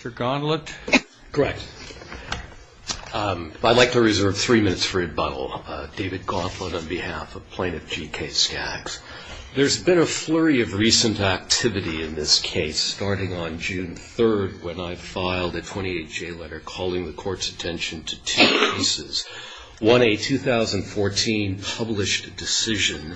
Mr. Gauntlet. Correct. I'd like to reserve three minutes for rebuttal. David Gauntlet on behalf of Plaintiff GK Skaggs. There's been a flurry of recent activity in this case, starting on June 3rd when I filed a 28-J letter calling the court's attention to two cases. One, a 2014 published decision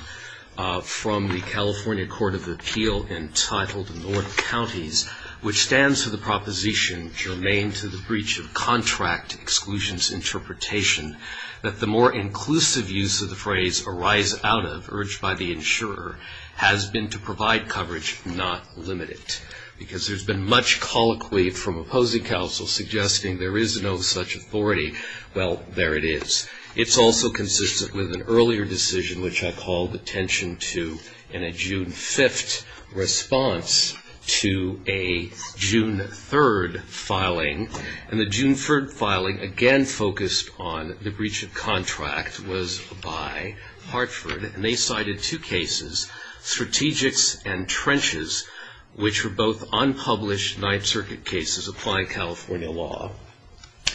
from the California Court of Appeal entitled North Counties, which stands for the proposition germane to the breach of contract exclusions interpretation that the more inclusive use of the phrase arise out of, urged by the insurer, has been to provide coverage, not limit it. Because there's been much colloquy from opposing counsel suggesting there is no such authority. Well, there it is. It's also consistent with an earlier decision which I called attention to in a June 5th response to a June 3rd filing. And the June 3rd filing, again focused on the breach of contract, was by Hartford. And they cited two cases, Strategics and Trenches, which were both unpublished Ninth Circuit cases applying California law.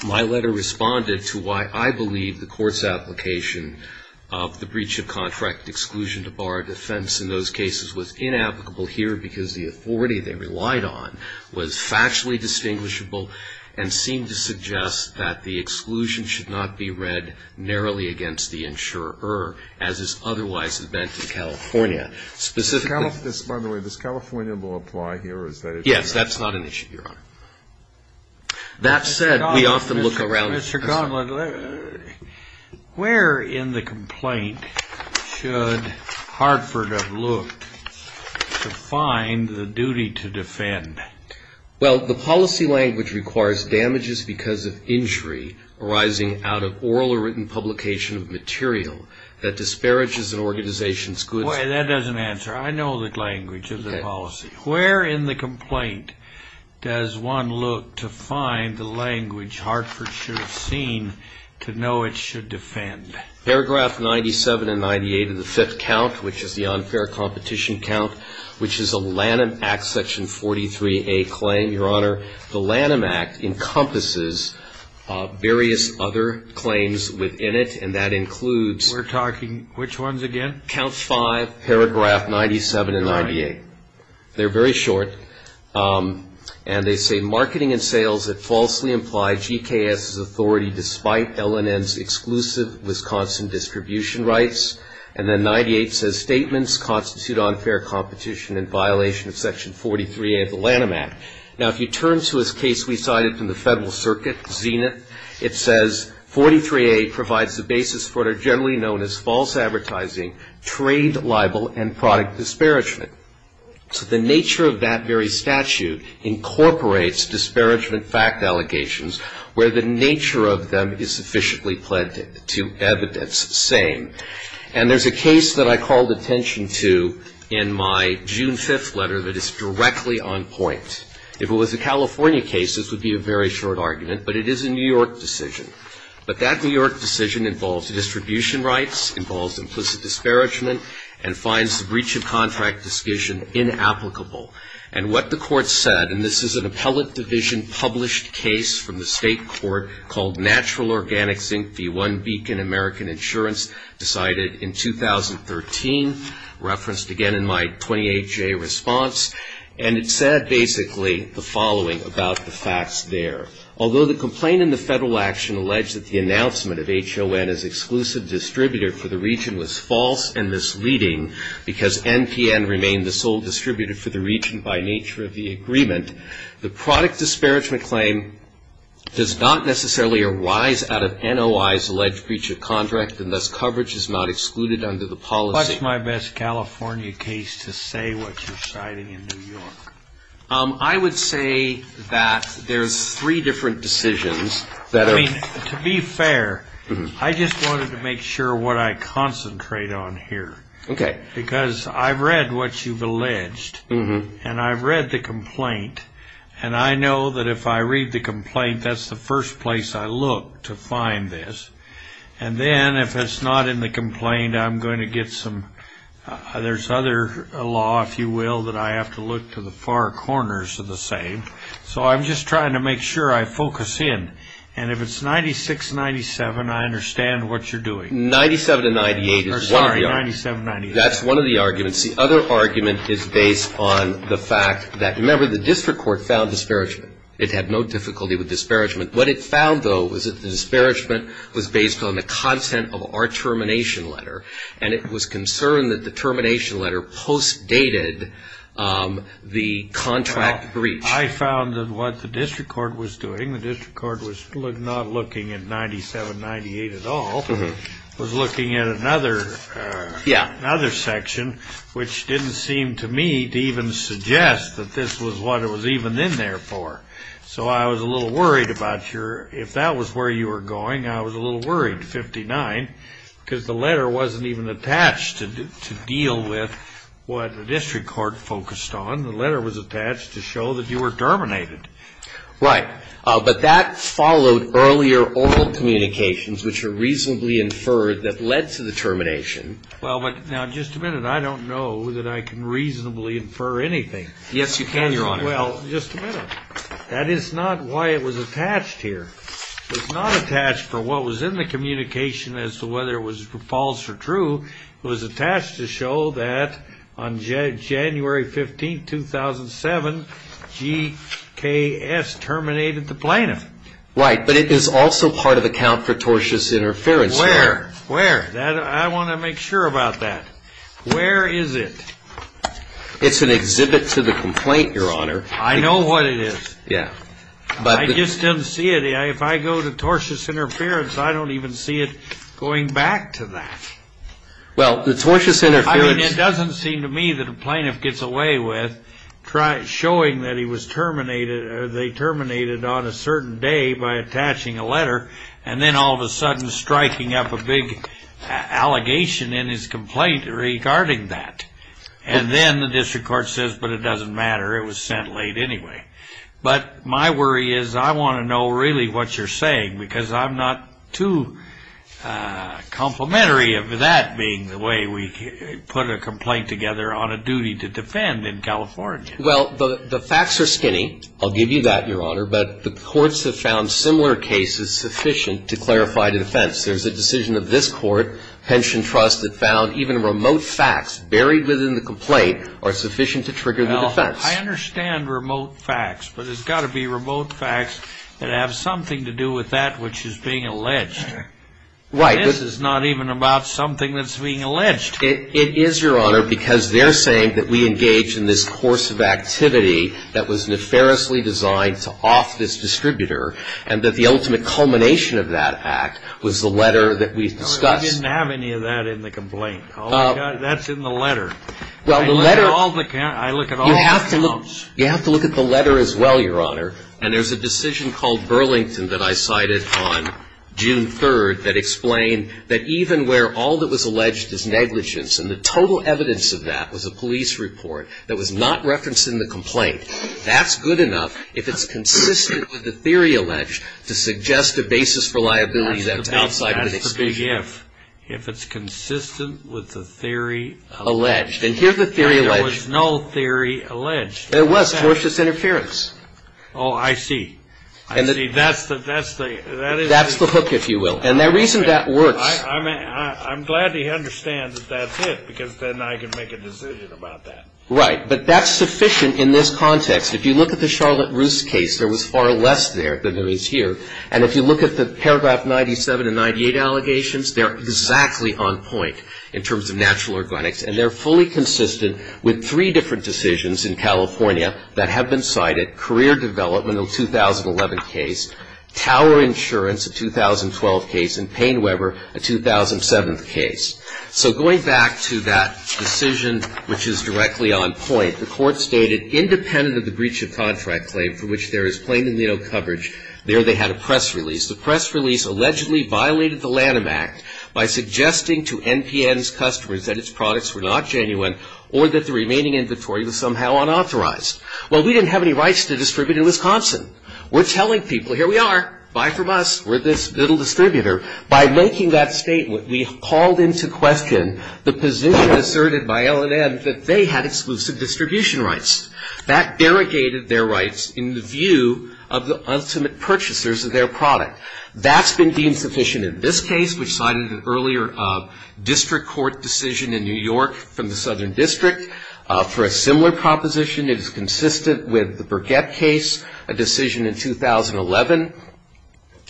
My letter responded to why I believe the court's application of the breach of contract exclusion to bar a defense in those cases was inapplicable here because the authority they relied on was factually distinguishable and seemed to suggest that the exclusion should not be read narrowly against the insurer, as is otherwise meant in California. Specifically, this, by the way, does California law apply here? Or is that a different issue? Yes, that's not an issue, Your Honor. Mr. Conlon, where in the complaint should Hartford have looked to find the duty to defend? Well, the policy language requires damages because of injury arising out of oral or written publication of material that disparages an organization's goods. That doesn't answer. I know the language of the policy. Where in the complaint does one look to find the language Hartford should have seen to know it should defend? Paragraph 97 and 98 of the fifth count, which is the unfair competition count, which is a Lanham Act section 43A claim, Your Honor. The Lanham Act encompasses various other claims within it. And that includes. We're talking which ones again? Count five, paragraph 97 and 98. They're very short. And they say, marketing and sales that falsely imply GKS's authority despite LNN's exclusive Wisconsin distribution rights. And then 98 says, statements constitute unfair competition in violation of section 43A of the Lanham Act. Now, if you turn to this case we cited from the Federal Circuit, Zenith, it says 43A provides the basis for what are generally known as false advertising, trade libel, and product disparagement. So the nature of that very statute incorporates disparagement fact allegations, where the nature of them is sufficiently planted to evidence saying. And there's a case that I called attention to in my June 5th letter that is directly on point. If it was a California case, this would be a very short argument. But it is a New York decision. But that New York decision involves distribution rights, involves implicit disparagement, and finds the breach of contract decision inapplicable. And what the court said, and this is an appellate division published case from the state court called Natural Organic Zinc v. One Beacon American Insurance decided in 2013, referenced again in my 28-J response. And it said basically the following about the facts there. Although the complaint in the federal action alleged that the announcement of HON as exclusive distributor because NPN remained the sole distributor for the region by nature of the agreement, the product disparagement claim does not necessarily arise out of NOI's alleged breach of contract, and thus coverage is not excluded under the policy. What's my best California case to say what you're citing in New York? I would say that there's three different decisions that are. To be fair, I just wanted to make sure what I concentrate on here. Because I've read what you've alleged. And I've read the complaint. And I know that if I read the complaint, that's the first place I look to find this. And then if it's not in the complaint, I'm going to get some, there's other law, if you will, that I have to look to the far corners of the same. So I'm just trying to make sure I focus in. And if it's 96-97, I understand what you're doing. 97-98 is one of the arguments. That's one of the arguments. The other argument is based on the fact that, remember, the district court found disparagement. It had no difficulty with disparagement. What it found, though, was that the disparagement was based on the content of our termination letter. And it was concerned that the termination letter post-dated the contract breach. I found that what the district court was doing, the district court was not looking at 97-98 at all. Was looking at another section, which didn't seem to me to even suggest that this was what it was even in there for. So I was a little worried about your, if that was where you were going, I was a little worried, 59, because the letter wasn't even attached to deal with what the district court focused on. The letter was attached to show that you were terminated. Right. But that followed earlier oral communications, which are reasonably inferred, that led to the termination. Well, but now just a minute. I don't know that I can reasonably infer anything. Yes, you can, Your Honor. Well, just a minute. That is not why it was attached here. It's not attached for what was in the communication as to whether it was false or true. It was attached to show that on January 15, 2007, GKS terminated the plaintiff. Right. But it is also part of account for tortious interference. Where? Where? I want to make sure about that. Where is it? It's an exhibit to the complaint, Your Honor. I know what it is. Yeah. But I just didn't see it. If I go to tortious interference, I don't even see it going back to that. Well, the tortious interference. I mean, it doesn't seem to me that a plaintiff gets away with showing that they terminated on a certain day by attaching a letter, and then all of a sudden striking up a big allegation in his complaint regarding that. And then the district court says, but it doesn't matter. It was sent late anyway. But my worry is I want to know really what you're saying, because I'm not too complimentary of that being the way we put a complaint together on a duty to defend. Well, the facts are skinny. I'll give you that, Your Honor. But the courts have found similar cases sufficient to clarify the defense. There's a decision of this court, Pension Trust, that found even remote facts buried within the complaint are sufficient to trigger the defense. Well, I understand remote facts. But it's got to be remote facts that have something to do with that which is being alleged. Right. This is not even about something that's being alleged. It is, Your Honor, because they're saying that we engage in this course of activity that was nefariously designed to off this distributor, and that the ultimate culmination of that act was the letter that we've discussed. I didn't have any of that in the complaint. That's in the letter. Well, the letter. I look at all the notes. You have to look at the letter as well, Your Honor. And there's a decision called Burlington that I cited on June 3rd that explained that even where all that was alleged is negligence, and the total evidence of that was a police report that was not referenced in the complaint. That's good enough if it's consistent with the theory alleged to suggest a basis for liabilities outside of the exclusion. That's a big if. If it's consistent with the theory alleged. And here's the theory alleged. There was no theory alleged. There was, cautious interference. Oh, I see. I see. That's the hook, if you will. And the reason that works. I'm glad to understand that that's it, because then I can make a decision about that. Right, but that's sufficient in this context. If you look at the Charlotte Roos case, there was far less there than there is here. And if you look at the paragraph 97 and 98 allegations, they're exactly on point in terms of natural organics. And they're fully consistent with three different decisions in California that have been cited, career development in the 2011 case, tower insurance in the 2012 case, and Payne Weber, a 2007 case. So going back to that decision, which is directly on point, the court stated, independent of the breach of contract claim for which there is plainly no coverage, there they had a press release. The press release allegedly violated the Lanham Act by suggesting to NPN's customers that its products were not genuine or that the remaining inventory was somehow unauthorized. Well, we didn't have any rights to distribute in Wisconsin. We're telling people, here we are. Buy from us. We're this little distributor. By making that statement, we called into question the position asserted by LNM that they had exclusive distribution rights. That derogated their rights in the view of the ultimate purchasers of their product. That's been deemed sufficient in this case, which cited an earlier district court decision in New York from the Southern District. For a similar proposition, it is consistent with the Burgett case, a decision in 2011,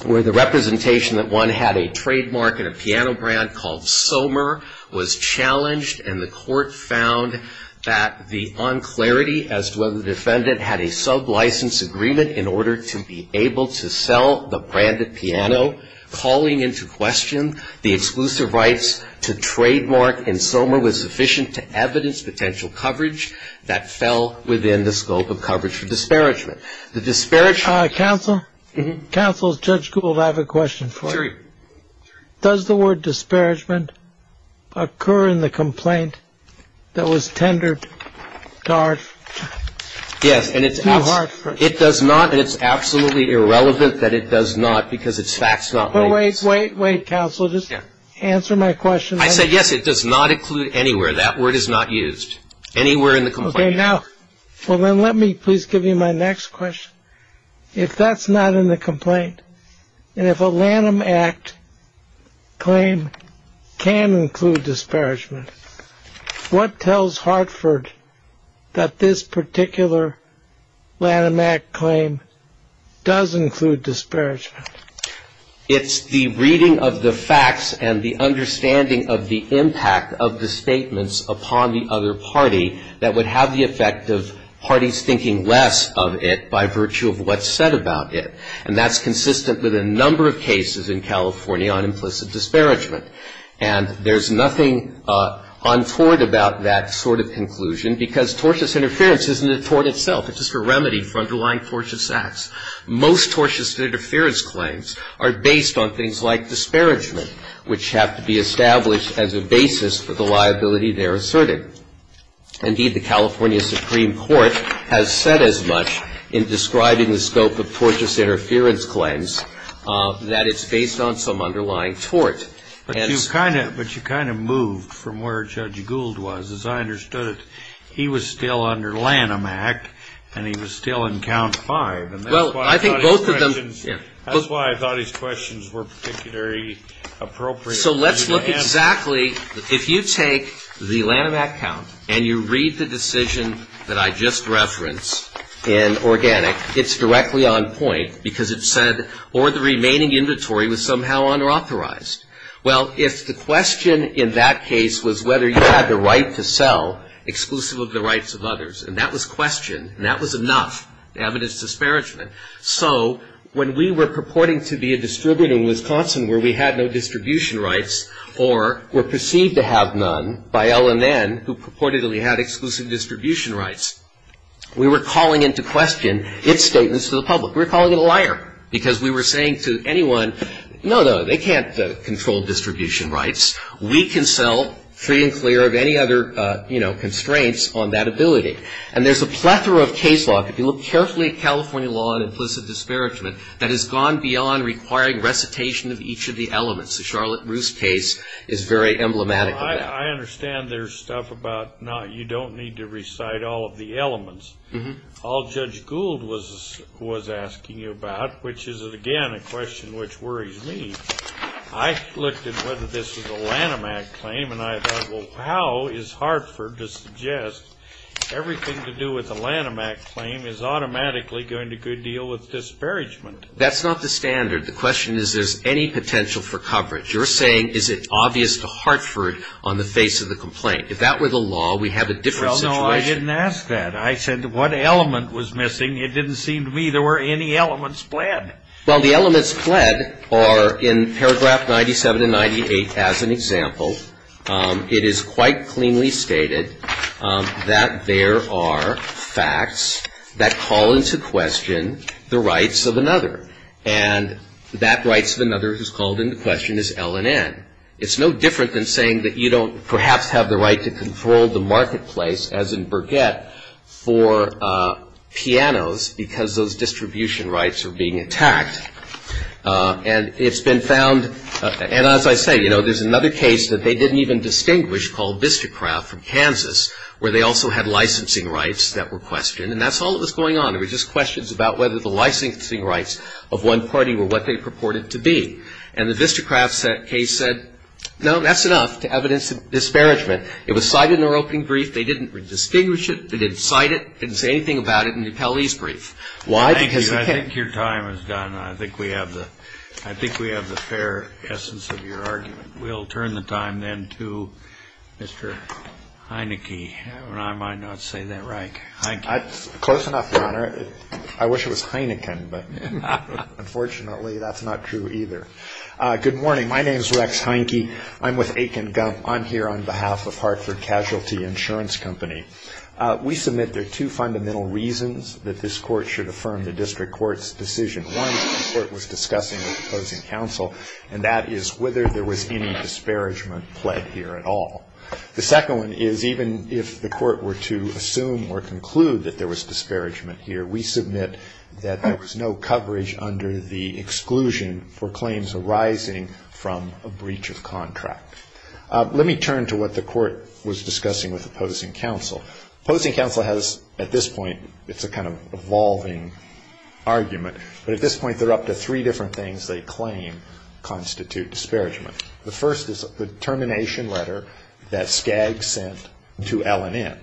where the representation that one had a trademark in a piano brand called SOMER was challenged. And the court found that the unclarity as to whether the defendant had a sub-license agreement in order to be able to sell the branded piano. Calling into question the exclusive rights to trademark in SOMER was sufficient to evidence potential coverage that fell within the scope of coverage for disparagement. The disparagement. Counsel? Counsel, Judge Gould, I have a question for you. Does the word disparagement occur in the complaint that was tendered to Hart? Yes, and it's absolutely irrelevant that it does not, because it's fact not made. But wait, wait, wait, counsel. Just answer my question. That word is not used. Anywhere in the complaint. Well, then let me please give you my next question. If that's not in the complaint, and if a Lanham Act claim can include disparagement, what tells Hartford that this particular Lanham Act claim does include disparagement? It's the reading of the facts and the understanding of the impact of the statements upon the other party that would have the effect of parties thinking less of it by virtue of what's said about it. And that's consistent with a number of cases in California on implicit disparagement. And there's nothing untoward about that sort of conclusion, because tortious interference isn't a tort itself. It's just a remedy for underlying tortious acts. Most tortious interference claims are based on things like disparagement, which have to be established as a basis for the liability they're asserting. Indeed, the California Supreme Court has said as much in describing the scope of tortious interference claims that it's based on some underlying tort. But you kind of moved from where Judge Gould was, as I understood it. He was still under Lanham Act, and he was still in count five. And that's why I thought his questions were particularly appropriate. So let's look exactly, if you take the Lanham Act count and you read the decision that I just referenced in Organic, it's directly on point, because it said, or the remaining inventory was somehow unauthorized. Well, if the question in that case was whether you had the right to sell exclusive of the rights of others, and that was questioned, and that was enough evidence disparagement. So when we were purporting to be a distributor in Wisconsin where we had no distribution rights, or were perceived to have none by LNN, who purportedly had exclusive distribution rights, we were calling into question its statements to the public. We were calling it a liar, because we were saying to anyone, no, no, they can't control distribution rights. We can sell free and clear of any other constraints on that ability. And there's a plethora of case law, if you look carefully at California law on implicit disparagement, that has gone beyond requiring recitation of each of the elements. The Charlotte Roos case is very emblematic of that. I understand there's stuff about you don't need to recite all of the elements. All Judge Gould was asking you about, which is, again, a question which worries me, I looked at whether this was a Lanham Act claim, and I thought, well, how is Hartford to suggest everything to do with a Lanham Act claim is automatically going to go deal with disparagement? That's not the standard. The question is, is there any potential for coverage? You're saying, is it obvious to Hartford on the face of the complaint? If that were the law, we'd have a different situation. Well, no, I didn't ask that. I said, what element was missing? It didn't seem to me there were any elements pled. Well, the elements pled are in paragraph 97 and 98 as an example. It is quite cleanly stated that there are facts that call into question the rights of another. And that rights of another who's called into question is L&N. It's no different than saying that you don't perhaps have the right to control the marketplace, as in Burgett, for pianos because those distribution rights are being attacked. And it's been found, and as I say, there's another case that they didn't even distinguish called Bistocraft from Kansas, where they also had licensing rights that were questioned. And that's all that was going on. It was just questions about whether the licensing rights of one party were what they purported to be. And the Bistocraft case said, no, that's enough to evidence a disparagement. It was cited in their opening brief. They didn't distinguish it. They didn't cite it. They didn't say anything about it in the appellee's brief. Why? Because they can't. I think your time is done. I think we have the fair essence of your argument. We'll turn the time then to Mr. Heineke. And I might not say that right, Heineke. Close enough, Your Honor. I wish it was Heineken, but unfortunately, that's not true either. Good morning. My name's Rex Heineke. I'm with Aiken Gump. I'm here on behalf of Hartford Casualty Insurance Company. We submit there are two fundamental reasons that this court should affirm the district court's decision. One, the court was discussing with opposing counsel, and that is whether there was any disparagement pled here at all. The second one is, even if the court were to assume or conclude that there was disparagement here, we submit that there was no coverage under the exclusion for claims arising from a breach of contract. Let me turn to what the court was discussing with opposing counsel. Opposing counsel has, at this point, it's a kind of evolving argument. But at this point, they're up to three different things they claim constitute disparagement. The first is the termination letter that Skagg sent to LNN.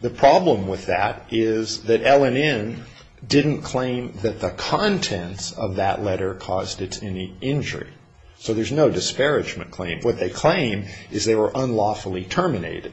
The problem with that is that LNN didn't claim that the contents of that letter caused it any injury. So there's no disparagement claim. What they claim is they were unlawfully terminated.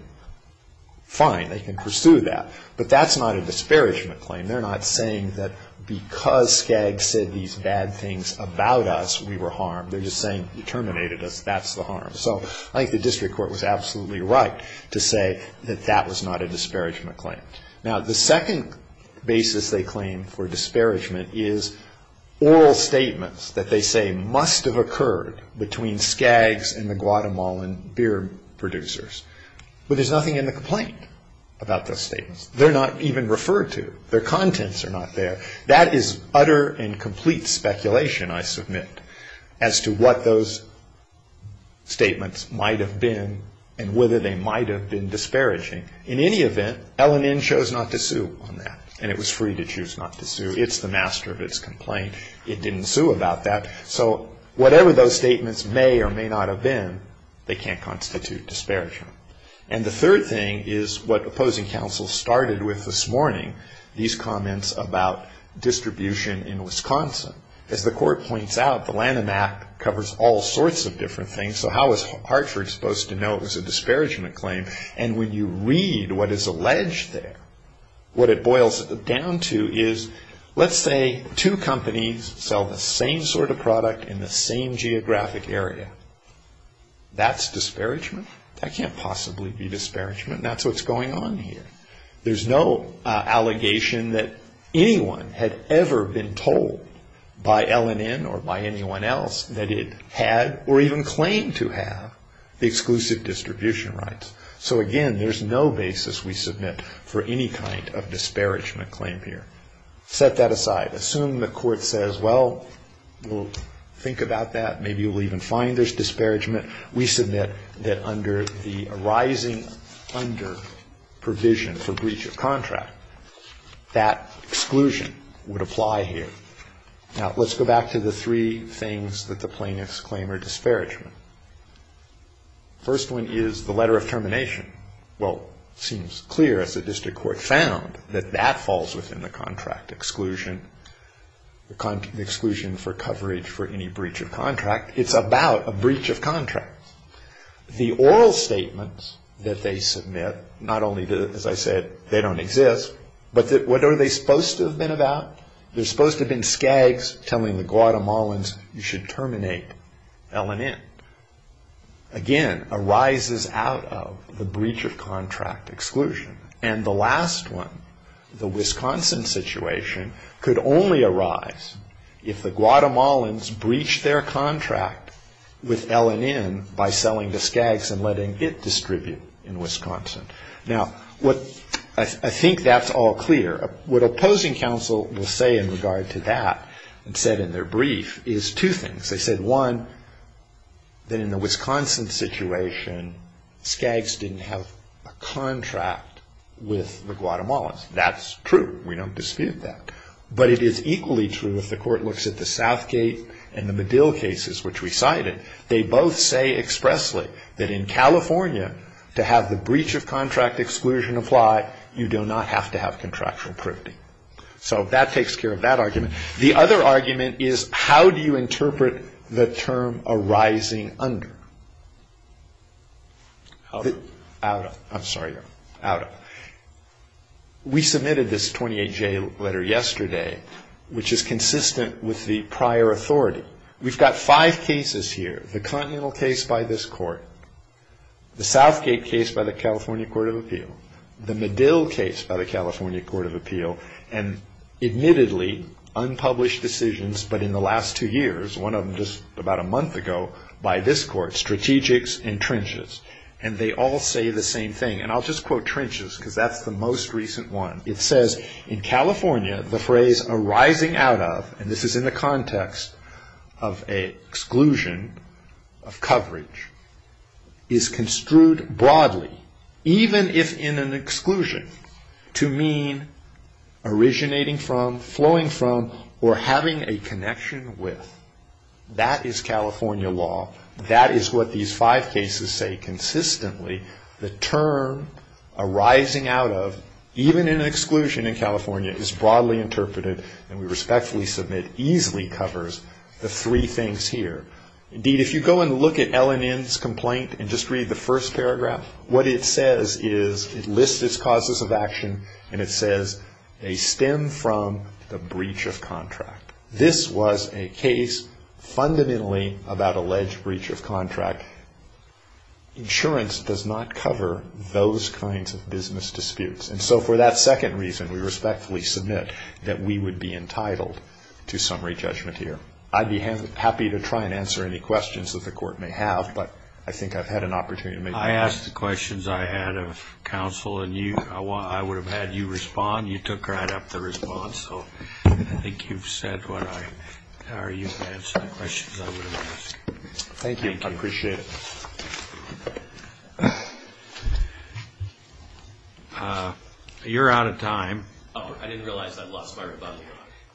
Fine, they can pursue that. But that's not a disparagement claim. They're not saying that because Skagg said these bad things about us, we were harmed. They're just saying, you terminated us. That's the harm. So I think the district court was absolutely right to say that that was not a disparagement claim. Now, the second basis they claim for disparagement is oral statements that they say must have occurred between Skagg's and the Guatemalan beer producers. But there's nothing in the complaint about those statements. They're not even referred to. Their contents are not there. That is utter and complete speculation, I submit. As to what those statements might have been and whether they might have been disparaging, in any event, LNN chose not to sue on that. And it was free to choose not to sue. It's the master of its complaint. It didn't sue about that. So whatever those statements may or may not have been, they can't constitute disparagement. And the third thing is what opposing counsel started with this morning, these comments about distribution in Wisconsin. As the court points out, the LNN Act covers all sorts of different things. So how is Hartford supposed to know it was a disparagement claim? And when you read what is alleged there, what it boils down to is, let's say, two companies sell the same sort of product in the same geographic area. That's disparagement? That can't possibly be disparagement. That's what's going on here. There's no allegation that anyone had ever been told by LNN or by anyone else that it had or even claimed to have the exclusive distribution rights. So again, there's no basis we submit for any kind of disparagement claim here. Set that aside. Assume the court says, well, we'll think about that. Maybe you'll even find there's disparagement. We submit that under the arising under provision for breach of contract, that exclusion would apply here. Now, let's go back to the three things that the plaintiffs claim are disparagement. First one is the letter of termination. Well, it seems clear, as the district court found, that that falls within the contract exclusion, the exclusion for coverage for any breach of contract. It's about a breach of contract. The oral statements that they submit, not only, as I said, they don't exist, but what are they supposed to have been about? They're supposed to have been skags telling the Guatemalans, you should terminate LNN. Again, arises out of the breach of contract exclusion. And the last one, the Wisconsin situation, could only arise if the Guatemalans breached their contract with LNN by selling the skags and letting it distribute in Wisconsin. Now, I think that's all clear. What opposing counsel will say in regard to that, and said in their brief, is two things. They said, one, that in the Wisconsin situation, skags didn't have a contract with the Guatemalans. That's true. We don't dispute that. But it is equally true if the court looks at the Southgate and the Medill cases, which we cited. They both say expressly that in California, to have the breach of contract exclusion apply, you do not have to have contractual privity. So that takes care of that argument. The other argument is, how do you interpret the term arising under? Out of. I'm sorry, out of. We submitted this 28-J letter yesterday, which is consistent with the prior authority. We've got five cases here. The Continental case by this court. The Southgate case by the California Court of Appeal. The Medill case by the California Court of Appeal. And admittedly, unpublished decisions, but in the last two years, one of them just about a month ago, by this court, strategics and trenches. And they all say the same thing. And I'll just quote trenches, because that's the most recent one. It says, in California, the phrase arising out of, and this is in the context of a exclusion of coverage, is construed broadly, even if in an exclusion, to mean originating from, flowing from, or having a connection with. That is California law. That is what these five cases say consistently. The term arising out of, even in an exclusion in California, is broadly interpreted, and we respectfully submit, easily covers the three things here. Indeed, if you go and look at LNN's complaint, and just read the first paragraph, what it says is, it lists its causes of action, and it says, they stem from the breach of contract. This was a case, fundamentally, about alleged breach of contract. Insurance does not cover those kinds of business disputes. And so for that second reason, we respectfully submit that we would be entitled to summary judgment here. I'd be happy to try and answer any questions that the court may have, but I think I've had an opportunity to make my point. I asked the questions I had of counsel, and I would have had you respond. You took right up the response. So I think you've said what I, or you've answered the questions I would have asked. Thank you. I appreciate it. You're out of time. I didn't realize I'd lost my rebuttal.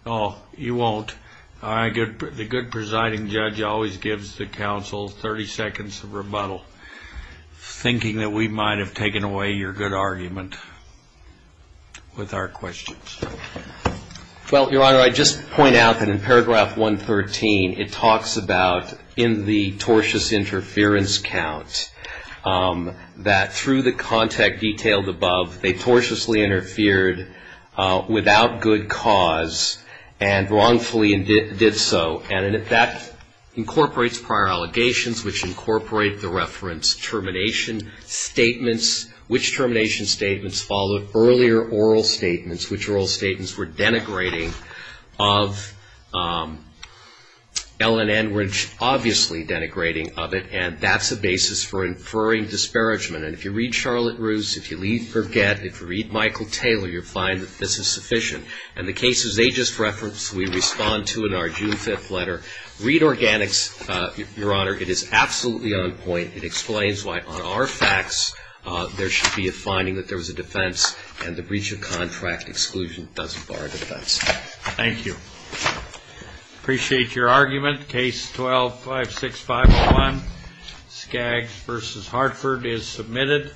Oh, you won't. The good presiding judge always gives the counsel 30 seconds of rebuttal, thinking that we might have taken away your good argument with our questions. Well, Your Honor, I'd just point out that in paragraph 113, it talks about in the tortious interference count that through the contact detailed above, they tortiously interfered without good cause and wrongfully did so. And that incorporates prior allegations, which incorporate the reference termination statements, which termination statements follow earlier oral statements, which oral statements were denigrating of L&N, which obviously denigrating of it. And that's a basis for inferring disparagement. And if you read Charlotte Roos, if you read Forget, if you read Michael Taylor, you'll find that this is sufficient. And the cases they just referenced, we respond to in our June 5th letter. Read organics, Your Honor. It is absolutely on point. It explains why on our facts, there should be a finding that there was a defense and the breach of contract exclusion doesn't bar a defense. Thank you. Appreciate your argument. Case 12-5651, Skaggs versus Hartford is submitted.